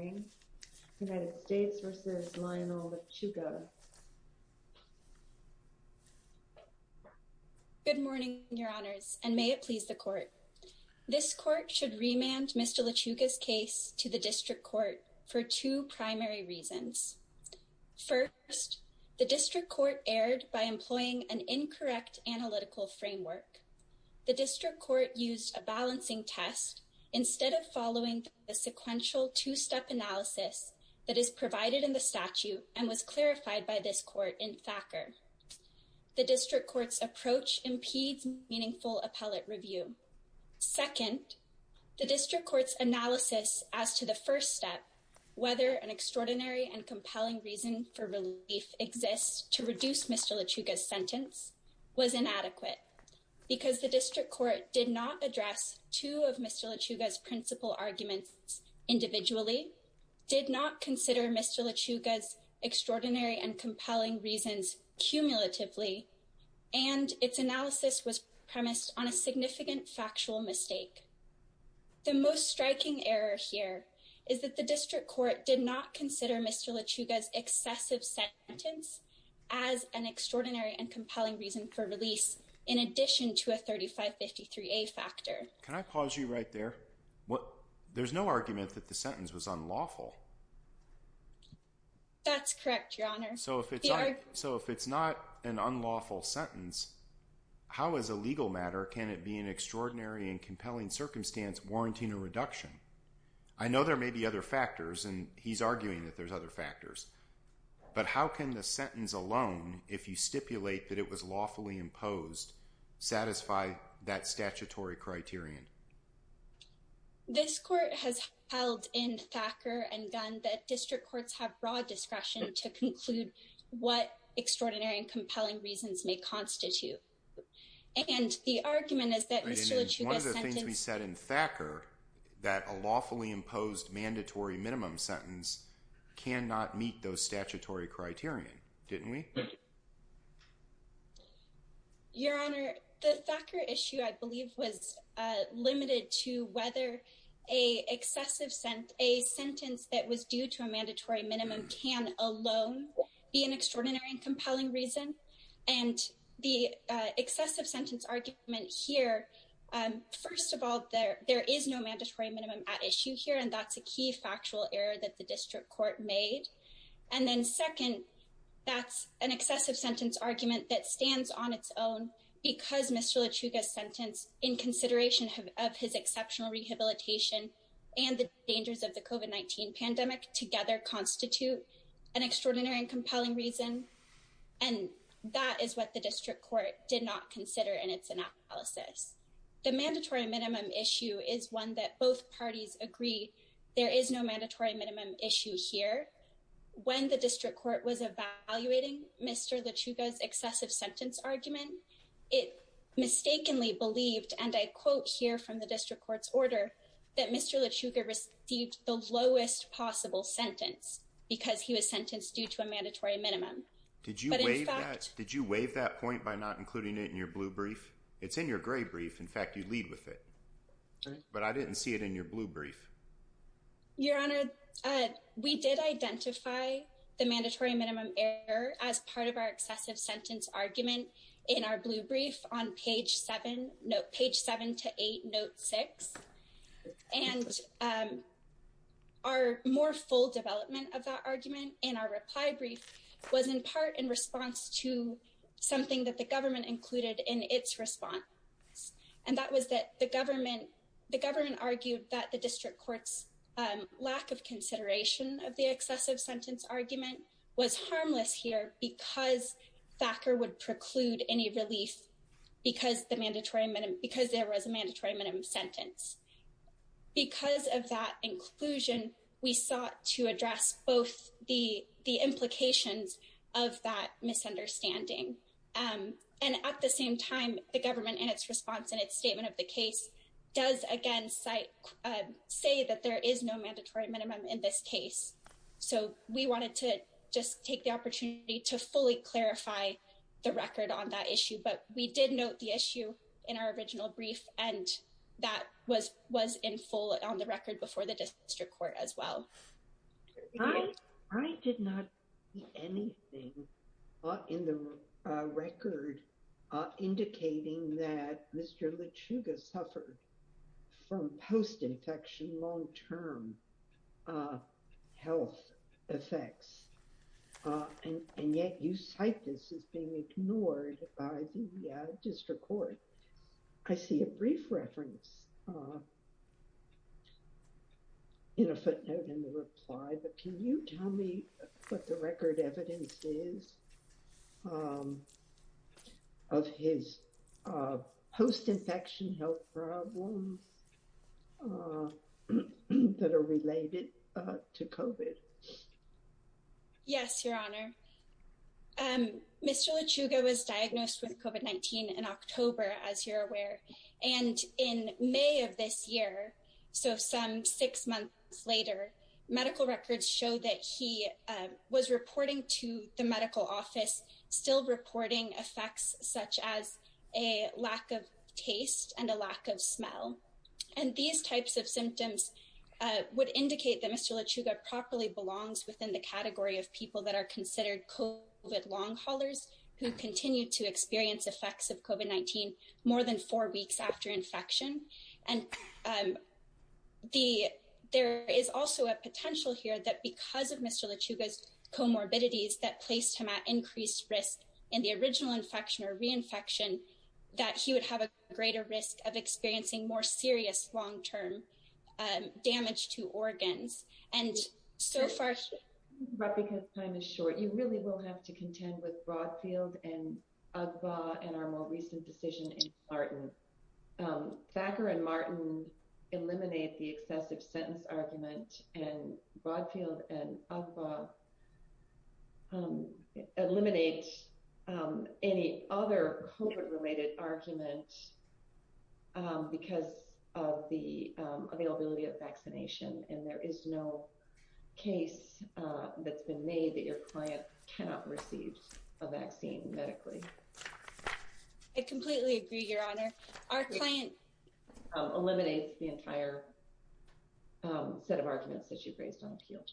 Good morning, Your Honors, and may it please the Court. This Court should remand Mr. Lechuga's case to the District Court for two primary reasons. First, the District Court erred by employing an incorrect analytical framework. The District Court used a balancing test instead of following the sequential two-step analysis that is provided in the statute and was clarified by this Court in Thacker. The District Court's approach impedes meaningful appellate review. Second, the District Court's analysis as to the first step, whether an extraordinary and compelling reason for relief exists to reduce Mr. Lechuga's sentence, was inadequate because the District Court did not address two of Mr. Lechuga's principal arguments individually, did not consider Mr. Lechuga's extraordinary and compelling reasons cumulatively, and its analysis was premised on a significant factual mistake. The most striking error here is that the District Court did not consider Mr. Lechuga's excessive sentence as an extraordinary and compelling reason for release in addition to a 3553A factor. Can I pause you right there? There's no argument that the sentence was unlawful. That's correct, Your Honor. So if it's not an unlawful sentence, how as a legal matter can it be an extraordinary and compelling circumstance warranting a reduction? I know there may be other factors, and he's arguing that there's other factors, but how can the sentence alone, if you stipulate that it was lawfully imposed, satisfy that statutory criterion? This Court has held in Thacker and Gunn that District Courts have broad discretion to conclude what extraordinary and compelling reasons may constitute. And the argument is that Mr. Lechuga's sentence- Right, and it's one of the things we said in Thacker, that a lawfully imposed mandatory minimum sentence cannot meet those statutory criterion, didn't we? Your Honor, the Thacker issue, I believe, was limited to whether a sentence that was due to excessive sentence argument here. First of all, there is no mandatory minimum at issue here, and that's a key factual error that the District Court made. And then second, that's an excessive sentence argument that stands on its own because Mr. Lechuga's sentence, in consideration of his exceptional rehabilitation and the dangers of the COVID-19 pandemic, together constitute an extraordinary and compelling reason. And that is what the District Court did not consider in its analysis. The mandatory minimum issue is one that both parties agree there is no mandatory minimum issue here. When the District Court was evaluating Mr. Lechuga's excessive sentence argument, it mistakenly believed, and I quote here from the District Court's order, that Mr. Lechuga received the lowest possible sentence because he was sentenced due to a mandatory minimum. Did you waive that? Did you waive that point by not including it in your blue brief? It's in your gray brief. In fact, you lead with it. But I didn't see it in your blue brief. Your Honor, we did identify the mandatory minimum error as part of our excessive sentence argument in our blue brief on page seven to eight, note six. And our more full development of that argument in our reply brief was in part in response to something that the government included in its response. And that was that the government argued that the District Court's lack of consideration of the excessive sentence argument was harmless here because FACER would preclude any relief because there was a mandatory minimum sentence. Because of that inclusion, we sought to address both the implications of that misunderstanding. And at the same time, the government in its response and its statement of the case does again say that there is no mandatory minimum in this case. So we wanted to just take the opportunity to fully clarify the record on that issue. But we did note the issue in our original brief, and that was in full on the record before the District Court as well. I did not see anything in the record indicating that Mr. LeChuga suffered from health effects. And yet you cite this as being ignored by the District Court. I see a brief reference in a footnote in the reply, but can you tell me what the record evidence is of his post-infection health problems that are related to COVID? Yes, Your Honor. Mr. LeChuga was diagnosed with COVID-19 in October, as you're aware. And in May of this year, so some six months later, medical records show that he was reporting to the medical office, still reporting effects such as a lack of taste and a lack of appetite. And these types of symptoms would indicate that Mr. LeChuga properly belongs within the category of people that are considered COVID long haulers who continue to experience effects of COVID-19 more than four weeks after infection. And there is also a potential here that because of Mr. LeChuga's comorbidities that placed him at increased risk in the original infection or serious long-term damage to organs. And so far... But because time is short, you really will have to contend with Broadfield and Ogba and our more recent decision in Martin. Thacker and Martin eliminate the excessive sentence argument and Broadfield and Ogba eliminate any other COVID related argument because of the availability of vaccination. And there is no case that's been made that your client cannot receive a vaccine medically. I completely agree, Your Honor. Our client eliminates the entire set of arguments that Mr. LeChuga has not appealed.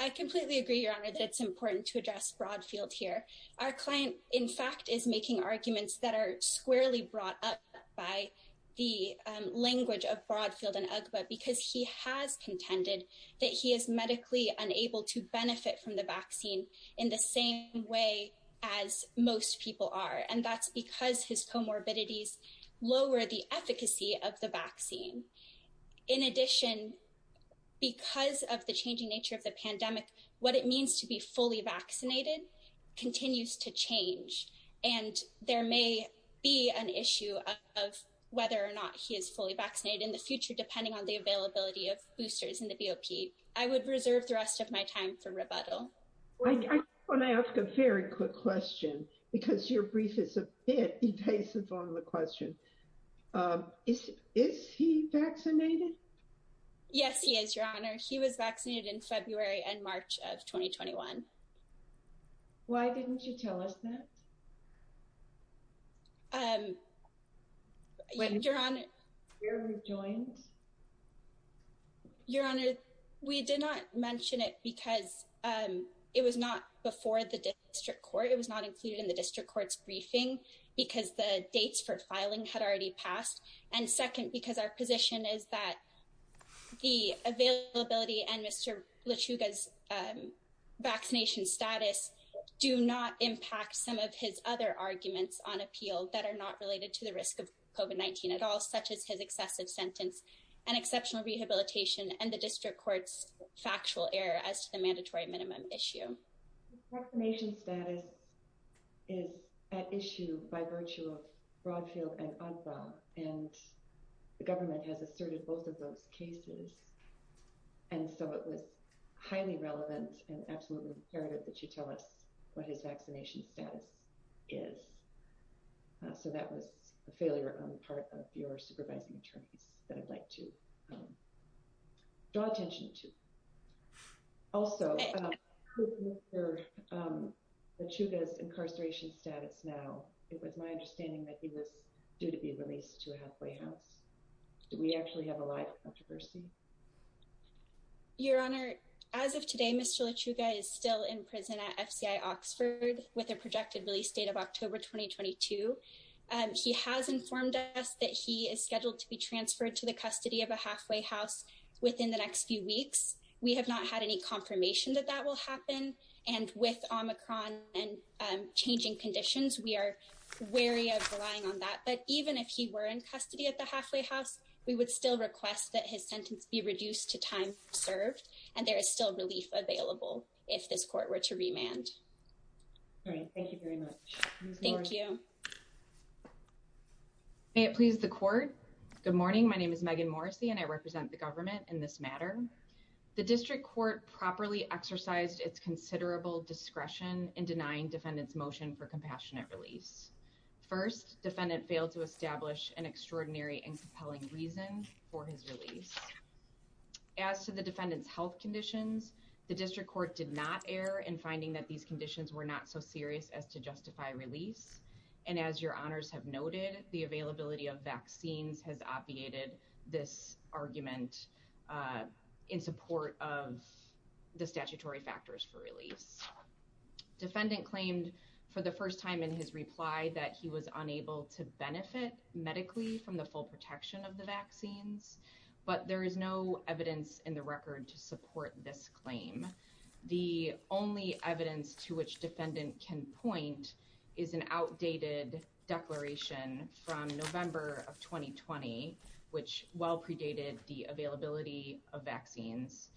I completely agree, Your Honor, that it's important to address Broadfield here. Our client, in fact, is making arguments that are squarely brought up by the language of Broadfield and Ogba because he has contended that he is medically unable to benefit from the vaccine in the same way as most people are. And that's because his comorbidities lower the efficacy of the vaccine. In addition, because of the changing nature of the pandemic, what it means to be fully vaccinated continues to change. And there may be an issue of whether or not he is fully vaccinated in the future, depending on the availability of boosters in the BOP. I would reserve the rest of my time for rebuttal. I want to ask a very quick question because your brief is a bit evasive on the question. Is he vaccinated? Yes, he is, Your Honor. He was vaccinated in February and March of 2021. Why didn't you tell us that? Your Honor, we did not mention it because it was not before the district court. It was not before the district court. It was not before the district court. And second, because our position is that the availability and Mr. Lachuga's vaccination status do not impact some of his other arguments on appeal that are not related to the risk of COVID-19 at all, such as his excessive sentence and exceptional rehabilitation and the district court's factual error as to the mandatory minimum issue. Vaccination status is at issue by virtue of Broadfield and Agba, and the government has asserted both of those cases. And so it was highly relevant and absolutely imperative that you tell us what his vaccination status is. So that was a failure on the part of your supervising attorneys that I'd like to draw attention to. Also, with Mr. Lachuga's incarceration status now, it was my understanding that he was due to be released to a halfway house. Do we actually have a live controversy? Your Honor, as of today, Mr. Lachuga is still in prison at FCI Oxford with a projected release date of October 2022. He has informed us that he is scheduled to be transferred to the custody of a halfway house within the next few weeks. We have not had any confirmation that that will happen. And with Omicron and changing conditions, we are wary of relying on that. But even if he were in custody at the halfway house, we would still request that his sentence be reduced to time served. And there is still relief available if this court were to remand. All right. Thank you very much. Thank you. May it please the court. Good morning. My name is Megan Morrissey, and I represent the government in this matter. The district court properly exercised its considerable discretion in denying defendant's motion for compassionate release. First, defendant failed to establish an extraordinary and compelling reason for his release. As to the defendant's health conditions, the district court did not err in finding that these conditions were not so serious as to justify release. And as your honors have noted, the availability of vaccines has obviated this argument in support of the statutory factors for release. Defendant claimed for the first time in his reply that he was unable to benefit medically from the full protection of the vaccines. But there is no only evidence to which defendant can point is an outdated declaration from November of 2020, which well predated the availability of vaccines.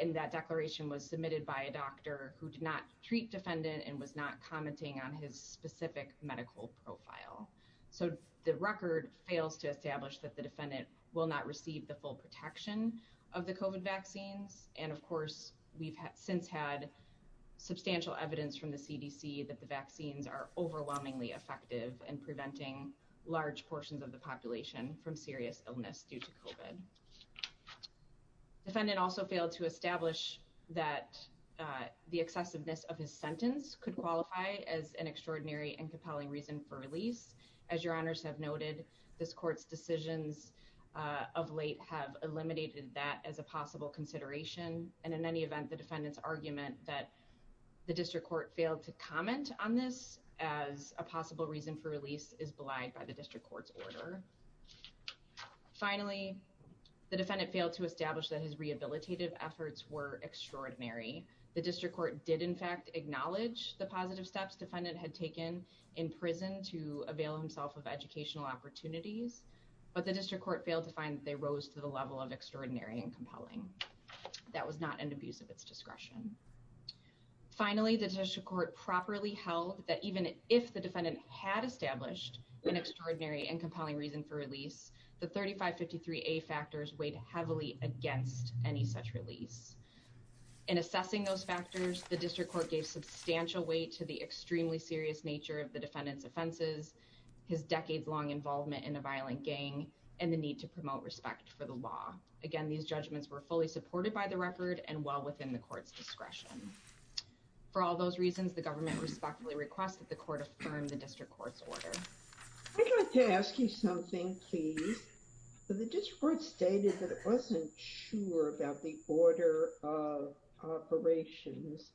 And that declaration was submitted by a doctor who did not treat defendant and was not commenting on his specific medical profile. So the record fails to establish that the defendant will not receive the full protection of the COVID vaccines. And of course, we've since had substantial evidence from the CDC that the vaccines are overwhelmingly effective in preventing large portions of the population from serious illness due to COVID. Defendant also failed to establish that the excessiveness of his sentence could qualify as an extraordinary and compelling reason for release. As your honors have noted, this court's decisions of late have eliminated that as a possible consideration. And in any event, the defendant's argument that the district court failed to comment on this as a possible reason for release is belied by the district court's order. Finally, the defendant failed to establish that his rehabilitative efforts were extraordinary. The district court did in fact acknowledge the positive steps defendant had taken in prison to avail himself of educational opportunities, but the district court failed to find that they rose to the level of extraordinary and compelling. That was not an abuse of its discretion. Finally, the district court properly held that even if the defendant had established an extraordinary and compelling reason for release, the 3553A factors weighed heavily against any such release. In assessing those factors, the district court gave substantial weight to the extremely serious nature of the defendant's offenses, his decades-long involvement in a violent gang, and the need to promote respect for the law. Again, these judgments were fully supported by the record and well within the court's discretion. For all those reasons, the government respectfully requests that the court affirm the district court's order. I'd like to ask you something, please. The district court stated that it wasn't sure about the order of operations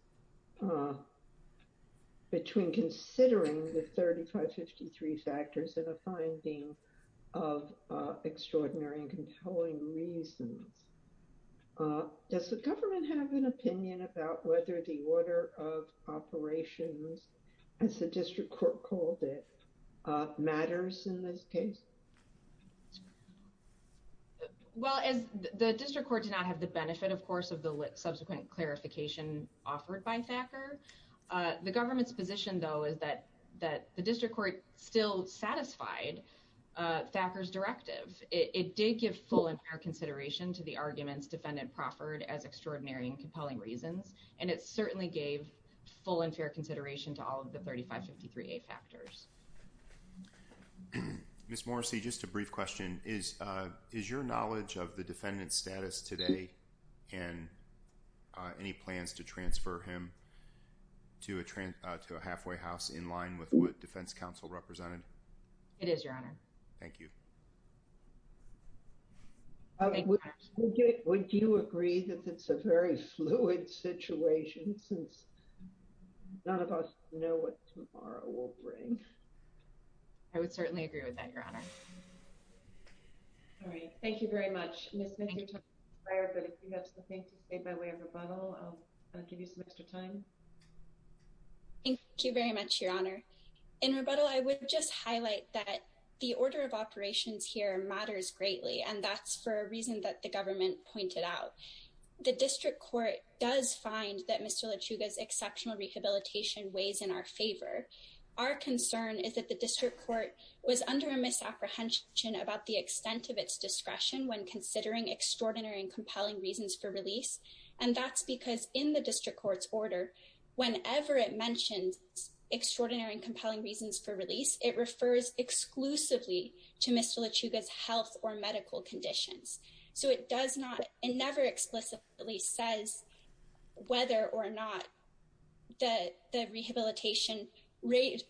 between considering the 3553 factors and a finding of extraordinary and compelling reasons. Does the government have an opinion about whether the order of operations, as the district court called it, matters in this case? Well, as the district court did not have the benefit, of course, of the subsequent clarification offered by Thacker, the government's position, though, is that the district court still satisfied Thacker's directive. It did give full and fair consideration to the arguments defendant proffered as extraordinary and compelling reasons, and it certainly gave full and fair consideration to all of the 3553A factors. Ms. Morrissey, just a brief question. Is your knowledge of the defendant's status today and any plans to transfer him to a halfway house in line with what defense counsel represented? It is, Your Honor. Thank you. Would you agree that it's a very fluid situation since none of us know what tomorrow will bring? I would certainly agree with that, Your Honor. All right. Thank you very much. But if you have something to say by way of rebuttal, I'll give you some extra time. Thank you very much, Your Honor. In rebuttal, I would just highlight that the order of operations here matters greatly, and that's for a reason that the government pointed out. The district court does find that Mr. LeChuga's exceptional rehabilitation weighs in our favor. Our concern is that the district court was under a misapprehension about the extent of its discretion when considering extraordinary and compelling reasons for release, and that's because in the district court's order, whenever it mentions extraordinary and compelling reasons for release, it refers exclusively to Mr. LeChuga's health or rehabilitation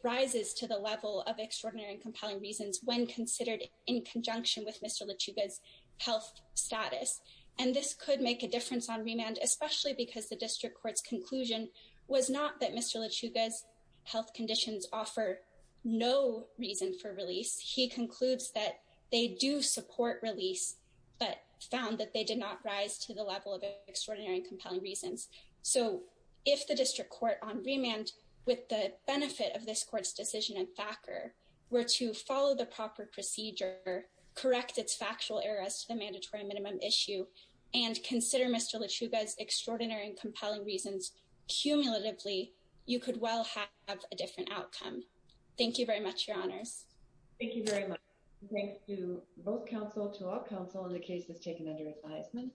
rises to the level of extraordinary and compelling reasons when considered in conjunction with Mr. LeChuga's health status. And this could make a difference on remand, especially because the district court's conclusion was not that Mr. LeChuga's health conditions offer no reason for release. He concludes that they do support release, but found that they did not rise to the level of extraordinary and compelling reasons. So if the district court on remand, with the benefit of this court's decision and backer, were to follow the proper procedure, correct its factual errors to the mandatory minimum issue, and consider Mr. LeChuga's extraordinary and compelling reasons cumulatively, you could well have a different outcome. Thank you very much, Your Honors. Thank you very much. Thanks to both to our counsel in the case that's taken under advisement.